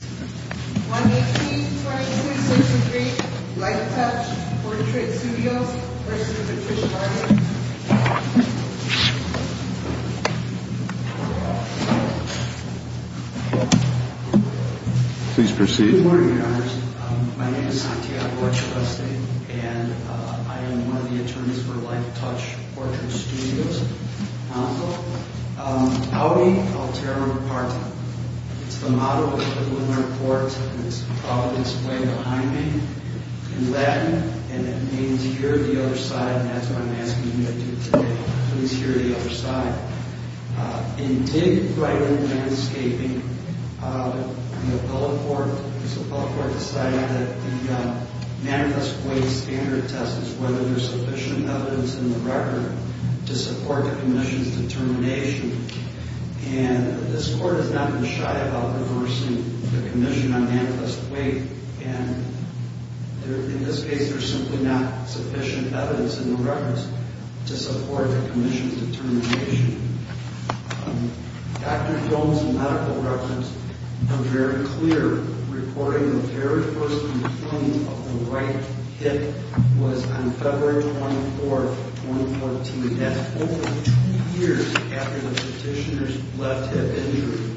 1-18-22-63 Lifetouch Portrait Studios v. Patricia Garner Please proceed. Good morning, Your Honors. My name is Santiago Echaveste, and I am one of the attorneys for Lifetouch Portrait Studios. I'll be, I'll tear it apart. It's the model of the Lunar Port, and it's probably displayed behind me. In Latin, and it means hear the other side, and that's what I'm asking you to do today. Please hear the other side. In digging right in landscaping, the appellate court decided that the manifest way standard test is whether there's sufficient evidence in the record to support the commission's determination, and this court has not been shy about reversing the commission on manifest way, and in this case, there's simply not sufficient evidence in the records to support the commission's determination. Dr. Jones' medical records are very clear, reporting the very first complaint of the right hip was on February 24th, 2014. That's over two years after the petitioner's left hip injury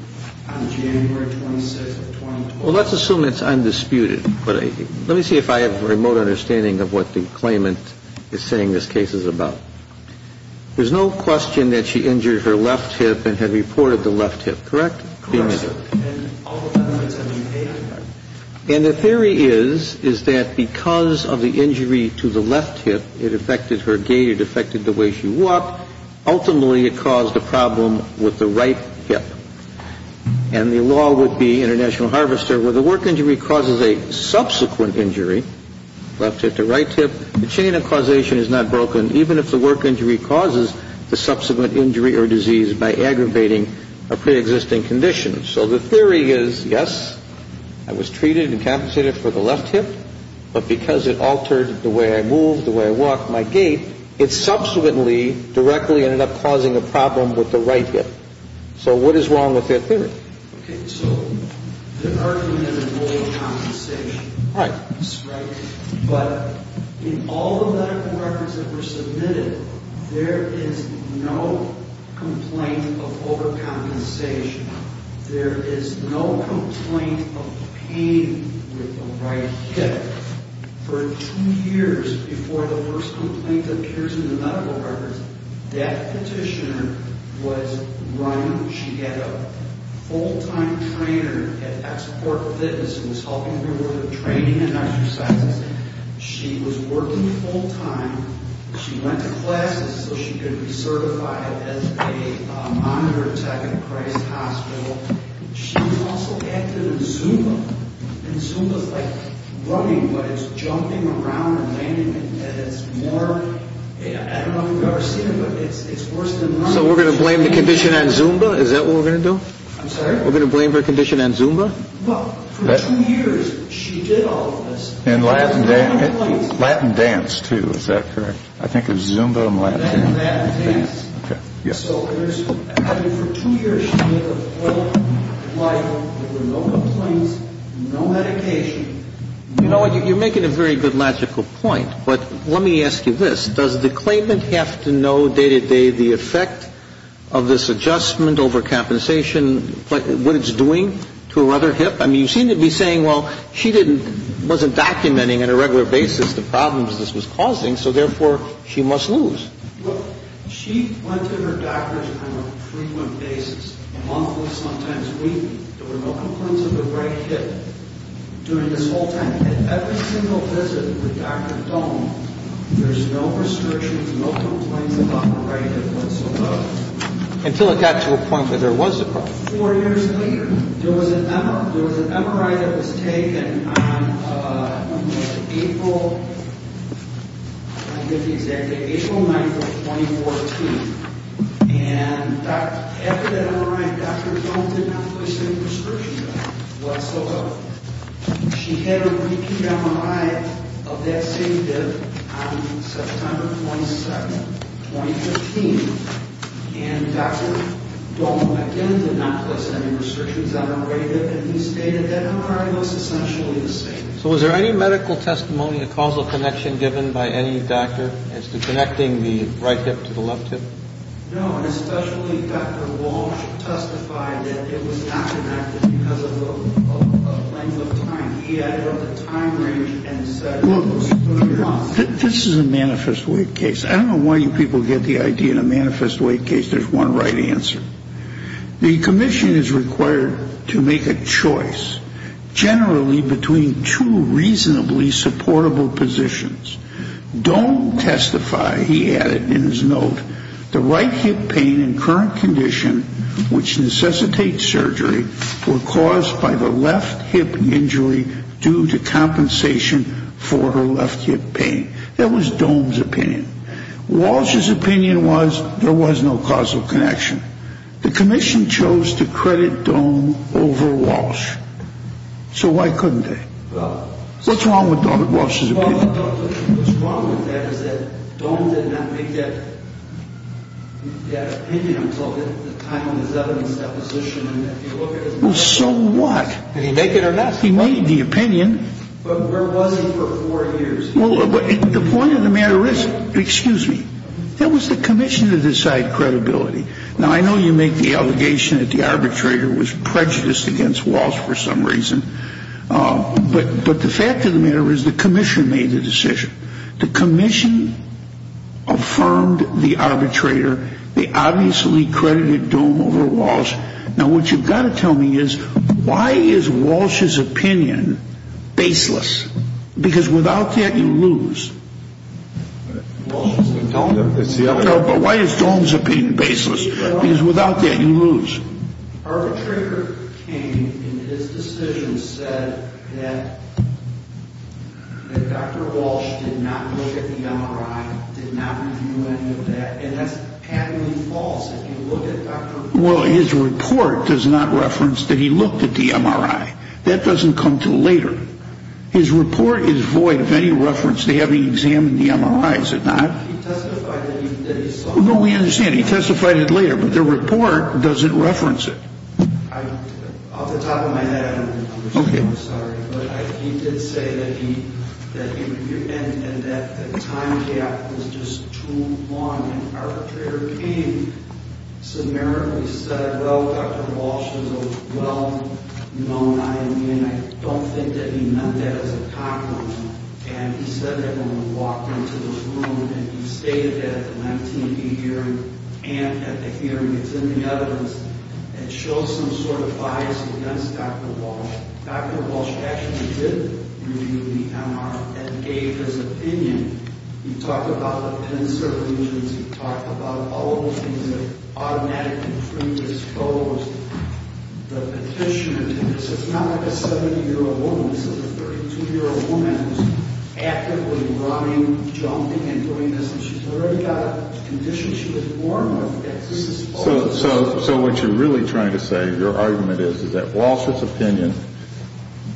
on January 26th of 2012. Well, let's assume it's undisputed, but let me see if I have a remote understanding of what the claimant is saying this case is about. There's no question that she injured her left hip and had reported the left hip, correct? Correct, sir. And the theory is, is that because of the injury to the left hip, it affected her gait, it affected the way she walked. Ultimately, it caused a problem with the right hip. And the law would be, International Harvester, where the work injury causes a subsequent injury, left hip to right hip, the chain of causation is not broken, even if the work injury causes the subsequent injury or disease by aggravating a preexisting condition. So the theory is, yes, I was treated and compensated for the left hip, but because it altered the way I moved, the way I walked, my gait, it subsequently directly ended up causing a problem with the right hip. So what is wrong with that theory? Okay, so the argument is overcompensation. Right. Right? But in all the medical records that were submitted, there is no complaint of overcompensation. There is no complaint of pain with the right hip. For two years before the first complaint appears in the medical records, that petitioner was running, she had a full-time trainer at Export Fitness who was helping her with her training and exercises. She was working full-time. She went to classes so she could be certified as a monitor tech at Christ Hospital. She also acted in Zumba, and Zumba is like running, but it's jumping around and landing, and it's more, I don't know if you've ever seen it, but it's worse than running. So we're going to blame the condition on Zumba? Is that what we're going to do? I'm sorry? We're going to blame her condition on Zumba? Well, for two years, she did all of this. And Latin dance, too. Is that correct? I think of Zumba and Latin dance. Latin dance. Okay. Yes. So for two years she had no complaints, no medication. You know what? You're making a very good logical point, but let me ask you this. Does the claimant have to know day-to-day the effect of this adjustment over compensation, what it's doing to her other hip? I mean, you seem to be saying, well, she wasn't documenting on a regular basis the problems this was causing, so therefore she must lose. Well, she went to her doctors on a frequent basis, monthly, sometimes weekly. There were no complaints of her right hip during this whole time. And every single visit with Dr. Doan, there's no restrictions, no complaints about her right hip whatsoever. Until it got to a point where there was a problem. Four years later, there was an MRI that was taken on April 9, 2014. And after that MRI, Dr. Doan did not place any restrictions on her whatsoever. She had a repeat MRI of that same hip on September 27, 2015. And Dr. Doan again did not place any restrictions on her right hip. And he stated that MRI looks essentially the same. So was there any medical testimony, a causal connection given by any doctor as to connecting the right hip to the left hip? No, and especially Dr. Walsh testified that it was not connected because of the length of time. He added up the time range and said it was close enough. This is a manifest weight case. I don't know why you people get the idea in a manifest weight case there's one right answer. The commission is required to make a choice, generally between two reasonably supportable positions. Doan testified, he added in his note, the right hip pain in current condition, which necessitates surgery, were caused by the left hip injury due to compensation for her left hip pain. That was Doan's opinion. Walsh's opinion was there was no causal connection. The commission chose to credit Doan over Walsh. So why couldn't they? What's wrong with Dr. Walsh's opinion? What's wrong with that is that Doan did not make that opinion until the time of his evidence deposition. Well, so what? Did he make it or not? He made the opinion. But where was he for four years? The point of the matter is, excuse me, it was the commission that decided credibility. Now, I know you make the allegation that the arbitrator was prejudiced against Walsh for some reason. But the fact of the matter is the commission made the decision. The commission affirmed the arbitrator. They obviously credited Doan over Walsh. Now, what you've got to tell me is why is Walsh's opinion baseless? Because without that, you lose. But why is Doan's opinion baseless? Because without that, you lose. Arbitrator came and his decision said that Dr. Walsh did not look at the MRI, did not review any of that, and that's patently false if you look at Dr. Walsh's report. Well, his report does not reference that he looked at the MRI. That doesn't come until later. His report is void of any reference to having examined the MRI, is it not? He testified that he saw it. No, we understand. He testified it later. But the report doesn't reference it. Off the top of my head, I don't understand. I'm sorry. But he did say that he reviewed it and that the time gap was just too long. And arbitrator came, said, Well, Dr. Walsh is a well-known IME, and I don't think that he meant that as a compliment. And he said that when he walked into this room and he stated that at the Lentini hearing and at the hearing, it's in the evidence that shows some sort of bias against Dr. Walsh. Dr. Walsh actually did review the MRI and gave his opinion. You talked about the pen surveys. You talked about all of the things that automatically bring this forward. The petitioner did this. It's not like a 70-year-old woman. This is a 32-year-old woman who's actively running, jumping, and doing this. And she's already got a condition she was born with. So what you're really trying to say, your argument is, is that Walsh's opinion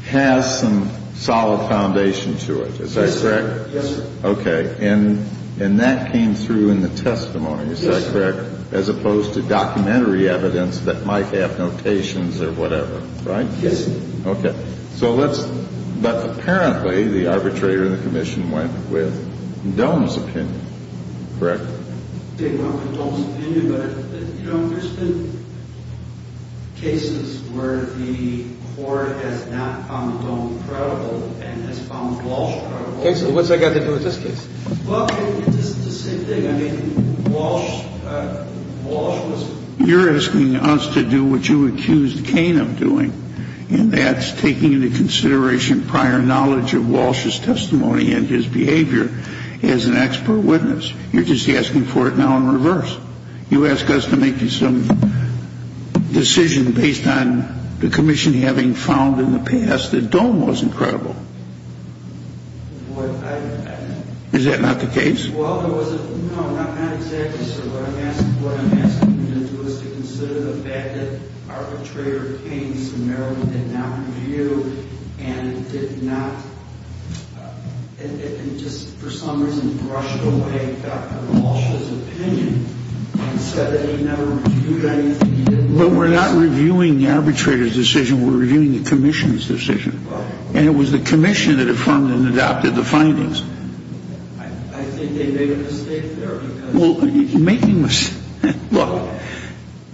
has some solid foundation to it. Is that correct? Yes, sir. Okay. And that came through in the testimony. Is that correct? Yes, sir. As opposed to documentary evidence that might have notations or whatever, right? Yes, sir. Okay. But apparently the arbitrator in the commission went with Dohm's opinion, correct? They went with Dohm's opinion. But, you know, there's been cases where the court has not found Dohm credible and has found Walsh credible. Okay. So what's that got to do with this case? Well, it's the same thing. I mean, Walsh was ---- You're asking us to do what you accused Cain of doing, and that's taking into consideration prior knowledge of Walsh's testimony and his behavior as an expert witness. You're just asking for it now in reverse. You ask us to make you some decision based on the commission having found in the past that Dohm was incredible. What I ---- Is that not the case? Well, there was a ---- No, not exactly, sir. What I'm asking you to do is to consider the fact that arbitrator Cain did not review and did not just for some reason brush away Dr. Walsh's opinion and said that he never reviewed anything. But we're not reviewing the arbitrator's decision. We're reviewing the commission's decision. And it was the commission that affirmed and adopted the findings. I think they made a mistake there. Well, making a mistake. Look,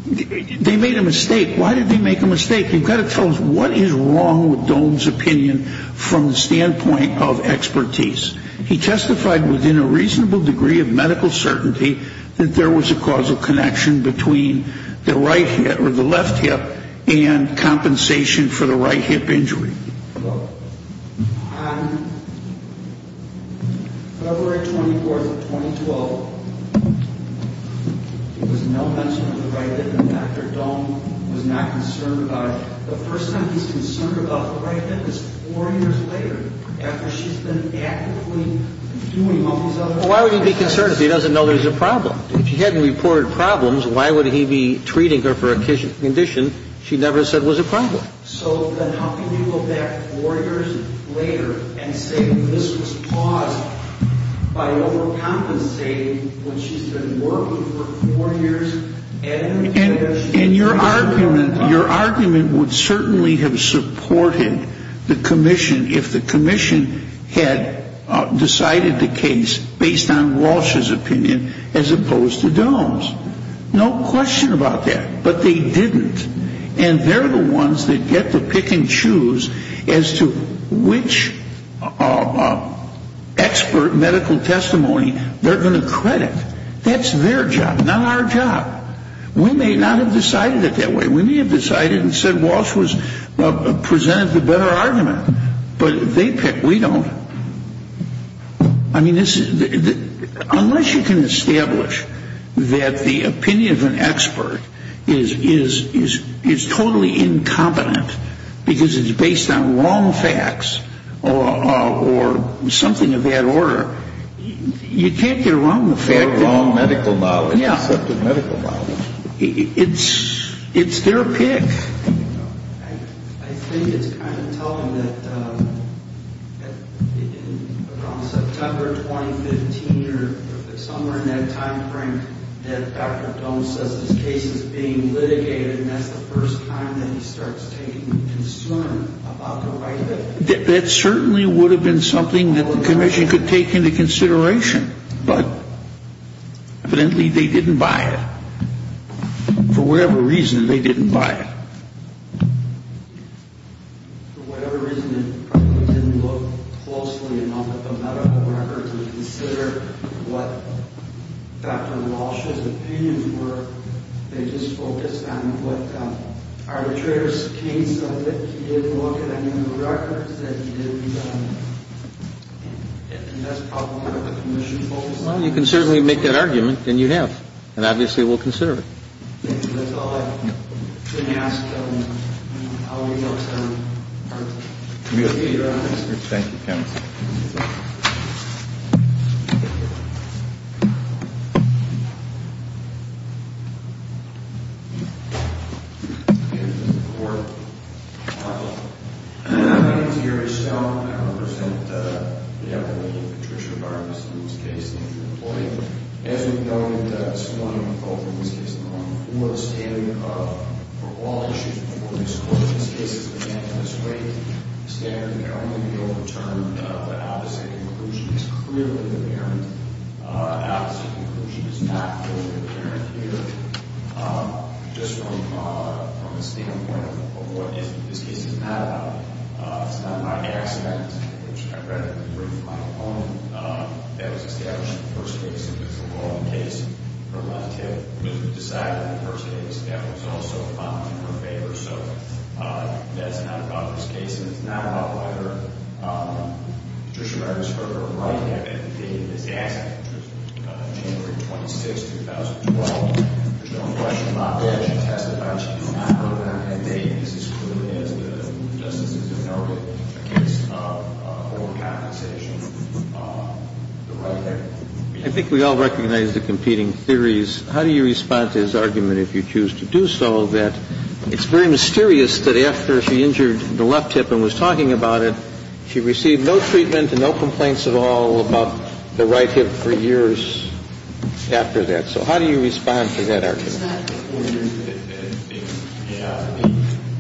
they made a mistake. Why did they make a mistake? You've got to tell us what is wrong with Dohm's opinion from the standpoint of expertise. He testified within a reasonable degree of medical certainty that there was a causal connection between the right hip or the left hip and compensation for the right hip injury. Look, on February 24th of 2012, there was no mention of the right hip and Dr. Dohm was not concerned about it. The first time he's concerned about the right hip is four years later after she's been actively reviewing all these other ---- Well, why would he be concerned if he doesn't know there's a problem? If he hadn't reported problems, why would he be treating her for a condition she never said was a problem? So then how can you go back four years later and say this was paused by overcompensating when she's been working for four years and ---- And your argument would certainly have supported the commission if the commission had decided the case based on Walsh's opinion as opposed to Dohm's. No question about that. But they didn't. And they're the ones that get to pick and choose as to which expert medical testimony they're going to credit. That's their job, not our job. We may not have decided it that way. We may have decided and said Walsh presented the better argument. But they pick. We don't. I mean, unless you can establish that the opinion of an expert is totally incompetent because it's based on wrong facts or something of that order, you can't get around the fact that ---- They're wrong medical knowledge. Yeah. Except in medical knowledge. It's their pick. I think it's kind of telling that around September 2015 or somewhere in that time frame that Dr. Dohm says his case is being litigated and that's the first time that he starts taking concern about the right of ---- That certainly would have been something that the commission could take into consideration. But evidently they didn't buy it. For whatever reason, they didn't buy it. For whatever reason, they probably didn't look closely enough at the medical records to consider what Dr. Walsh's opinions were. They just focused on what arbitrator's case of it. He didn't look at any of the records that he did. And that's probably what the commission focused on. Well, you can certainly make that argument, and you have. And obviously we'll consider it. Thank you. That's all I can ask. I'll leave it up to our committee. Thank you, counsel. The opposite conclusion is clearly there. The opposite conclusion is not clearly there here. Just from the standpoint of what this case is not about, it's not about the accident, which I read in the brief of my opponent, that was established in the first case. It was a wrong case. Her left hip was decided in the first case. That was also found in her favor. So that's not about this case. And it's not about whether Patricia Meyers hurt her right hip. It's the accident. It was January 26, 2012. There's no question about that. It should be tested by GPI program. And this is clearly as the justices have noted, it's a form of compensation for the right hip. I think we all recognize the competing theories. How do you respond to his argument, if you choose to do so, that it's very mysterious that after she injured the left hip and was talking about it, she received no treatment and no complaints at all about the right hip for years after that. So how do you respond to that argument?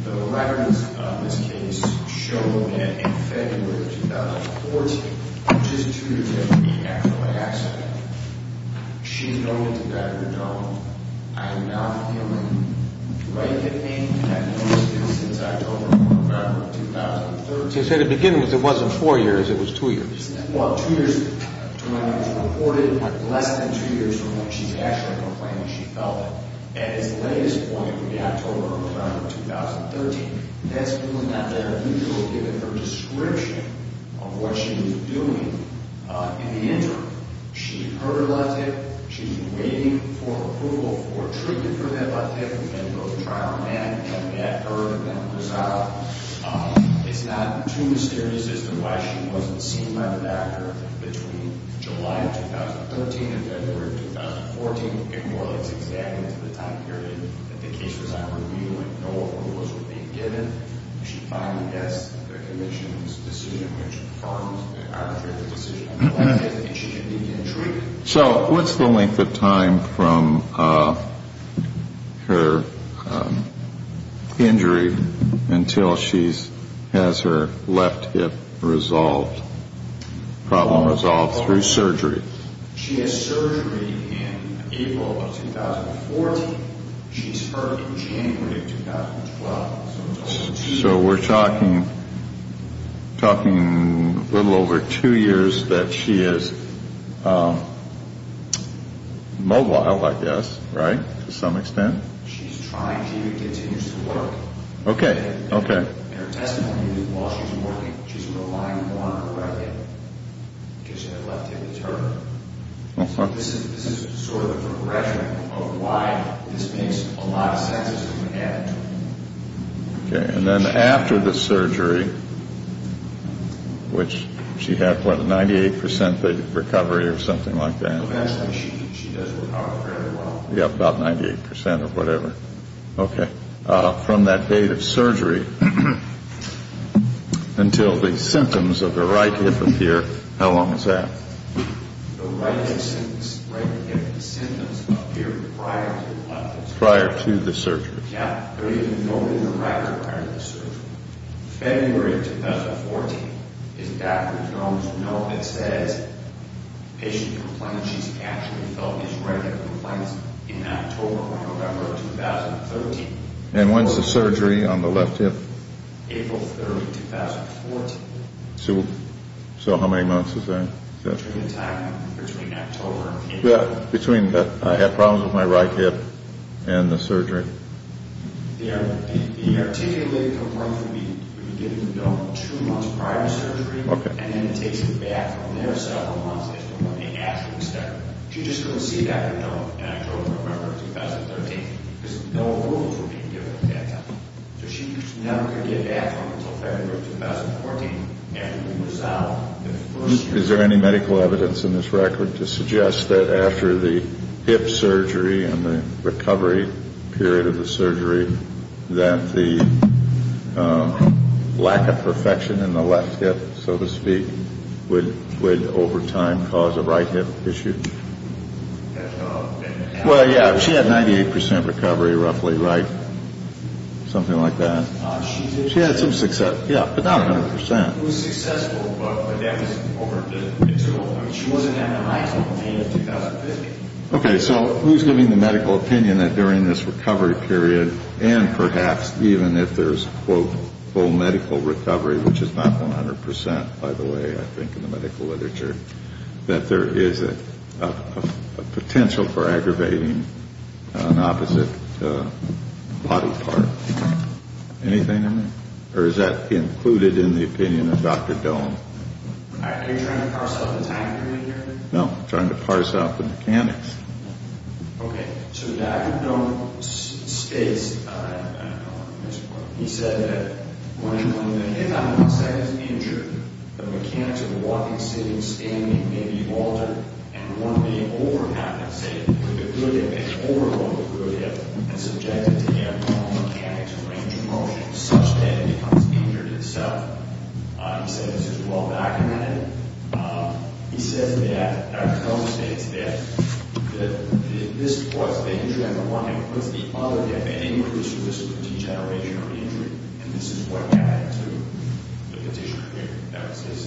The records of this case show that in February of 2014, which is two years after the accident, she noted to Dr. Doan, I am not feeling right hip pain, and I've noticed it since October or November of 2013. So to begin with, it wasn't four years. It was two years. Well, two years to when it was reported. Less than two years from when she's actually complaining she felt it. At its latest point would be October or November of 2013. That's really not that unusual given her description of what she was doing in the interim. She hurt her left hip. She's been waiting for approval for treatment for that left hip and for the trial, and that hurt. It's not too mysterious as to why she wasn't seen by the doctor between July of 2013 and February of 2014. It more or less exaggerates the time period that the case was on review and no approval was being given. She finally gets the commission's decision, which confirms the arbitrary decision on the left hip, and she should be treated. So what's the length of time from her injury until she has her left hip problem resolved through surgery? She has surgery in April of 2014. She's hurt in January of 2012. So we're talking a little over two years that she is mobile, I guess, right, to some extent? She's trying to, and continues to work. Okay, okay. In her testimony, while she's working, she's relying on her right hip because her left hip is her. This is sort of a progression of why this makes a lot of sense as to what happened to her. Okay, and then after the surgery, which she had, what, a 98% recovery or something like that? Eventually she does recover fairly well. Yeah, about 98% or whatever. Okay. So from that date of surgery until the symptoms of the right hip appear, how long is that? The right hip symptoms appear prior to what? Prior to the surgery. Yeah. They're even noted in the record prior to the surgery. February of 2014 is Dr. Jones' note that says patient complains she's actually felt his right hip complaints in October or November of 2013. And when's the surgery on the left hip? April 30, 2014. So how many months is that? Between the time, between October and April. Between, I have problems with my right hip and the surgery. The articulated complaint would be given to Bill two months prior to surgery. Okay. And then it takes her back from there several months after the surgery. She just couldn't see Dr. Jones in October or November of 2013 because no approvals were being given at that time. So she never could get back from him until February of 2014 after the result of the first surgery. Is there any medical evidence in this record to suggest that after the hip surgery and the recovery period of the surgery, that the lack of perfection in the left hip, so to speak, would over time cause a right hip issue? Well, yeah. She had 98 percent recovery roughly, right? Something like that. She had some success. Yeah. But not 100 percent. It was successful, but that was over the internal time. She wasn't having a high total pain in 2015. Okay. So who's giving the medical opinion that during this recovery period and perhaps even if there's, quote, full medical recovery, which is not 100 percent, by the way, I think, in the medical literature, that there is a potential for aggravating an opposite body part? Anything in there? Or is that included in the opinion of Dr. Doan? Are you trying to parse out the time period here? No. I'm trying to parse out the mechanics. Okay. So Dr. Doan states, he said that when the hip is injured, the mechanics of walking, sitting, standing may be altered and one may over-capacitate with the gluteus and overload the gluteus and subject it to the abnormal mechanics of range of motion such that it becomes injured itself. He said this is well documented. He says that Dr. Doan states that this was the injury on the one hip. What's the other hip? Anyway, this was a degeneration of the injury, and this is what added to the condition here. That was his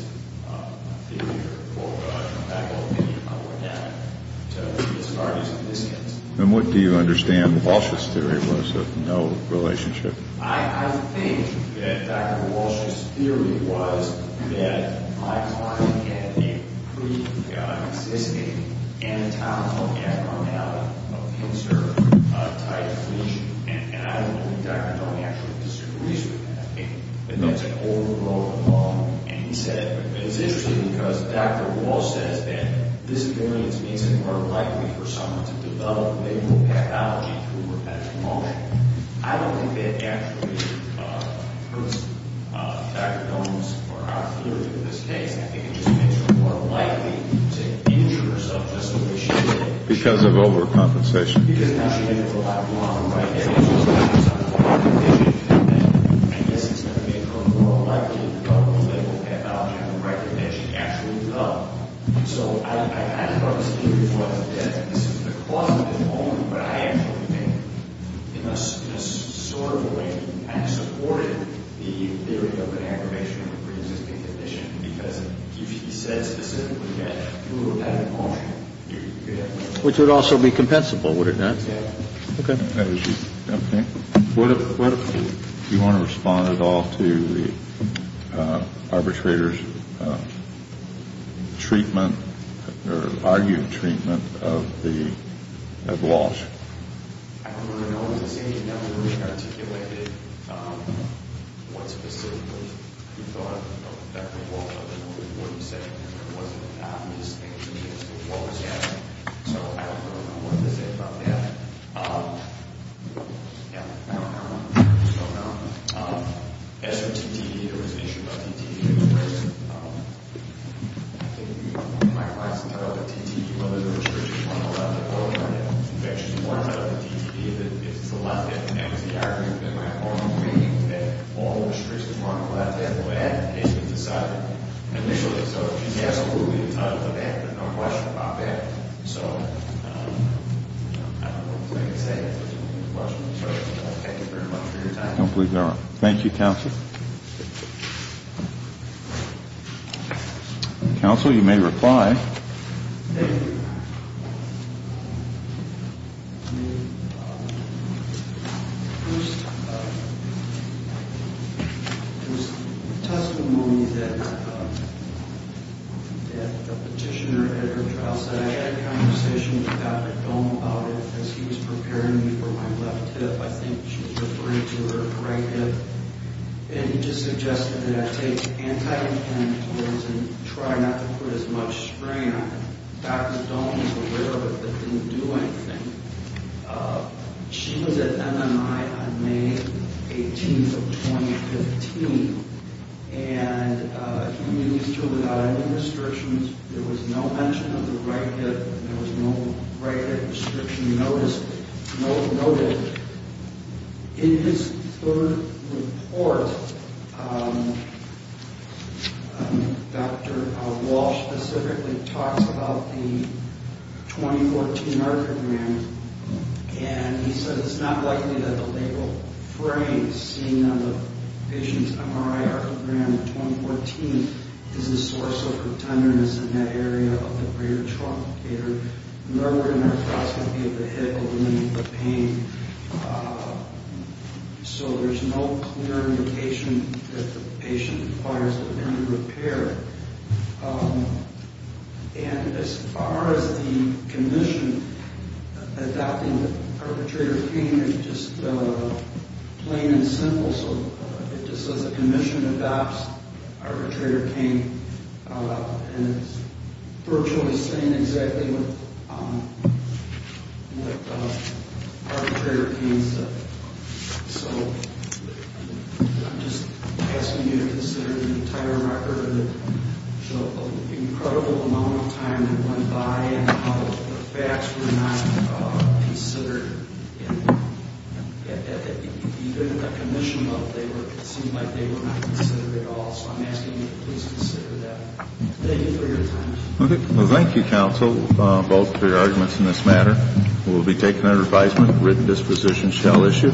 theory or medical opinion on what added to the severity of the conditions. And what do you understand Walsh's theory was of no relationship? I think that Dr. Walsh's theory was that my client had a pre-existing anatomical abnormality of the insert tight fleece, and I don't think Dr. Doan actually disagrees with that. It's an overload of bone, and he said it's interesting because Dr. Walsh says that this means it's more likely for someone to develop labral pathology through repetitive motion. I don't think that actually hurts Dr. Doan's or our theory in this case. I think it just makes her more likely to injure herself just the way she did. Because of overcompensation. Because now she had to go out and walk, and right there she was having some kind of condition, and I guess it's going to make her more likely to develop labral pathology, and the right condition to actually go. So I think Dr. Walsh's theory was that this is the cause of the bone, but I actually think in a sort of a way I supported the theory of an aggravation of a pre-existing condition because he said specifically that through repetitive motion. Which would also be compensable, would it not? Yes. Okay. Do you want to respond at all to the arbitrator's treatment or argued treatment of Walsh? I don't really know what he said. He never really articulated what specifically he thought of Dr. Walsh. I don't really know what he said. It wasn't an obvious thing to me as to what was happening. So I don't really know what to say about that. Yeah. I don't know. I don't know. As for TTE, there was an issue about TTE. I think you might want to tell the TTE whether the restriction was on the left or on the right. In fact, she's warned about the TTE that if it's the left end, that was the argument that my opponent made, that all restrictions were on the left end. Well, that case was decided initially. So she's absolutely entitled to that. There's no question about that. So I don't know what else I can say. I don't believe there are. Thank you, counsel. Counsel, you may reply. Thank you. There was testimony that the petitioner at her trial said, I had a conversation with Dr. Dohm about it as he was preparing me for my left hip. I think she was referring to her right hip. And he just suggested that I take anti-inflammatories and try not to put as much strain on it. Dr. Dohm was aware of it but didn't do anything. She was at MMI on May 18th of 2015, and he was still without any restrictions. There was no mention of the right hip. There was no right hip restriction noted. In his third report, Dr. Walsh specifically talks about the 2014 archogram, and he says, It's not likely that the labral frame seen on the patient's MRI archogram in 2014 is the source of her tenderness in that area of the rear truncator. There were no arthroscopy of the hip or the knee for pain. So there's no clear indication that the patient requires any repair. And as far as the condition, adopting the arbitrator pain is just plain and simple. So it just says the condition adopts arbitrator pain. And it's virtually saying exactly what arbitrator pain is. So I'm just asking you to consider the entire record. There was an incredible amount of time that went by and how the facts were not considered. Even at the commission level, it seemed like they were not considered at all. So I'm asking you to please consider that. Thank you for your time. Well, thank you, counsel, both for your arguments in this matter. It will be taken under advisement. Written disposition shall issue.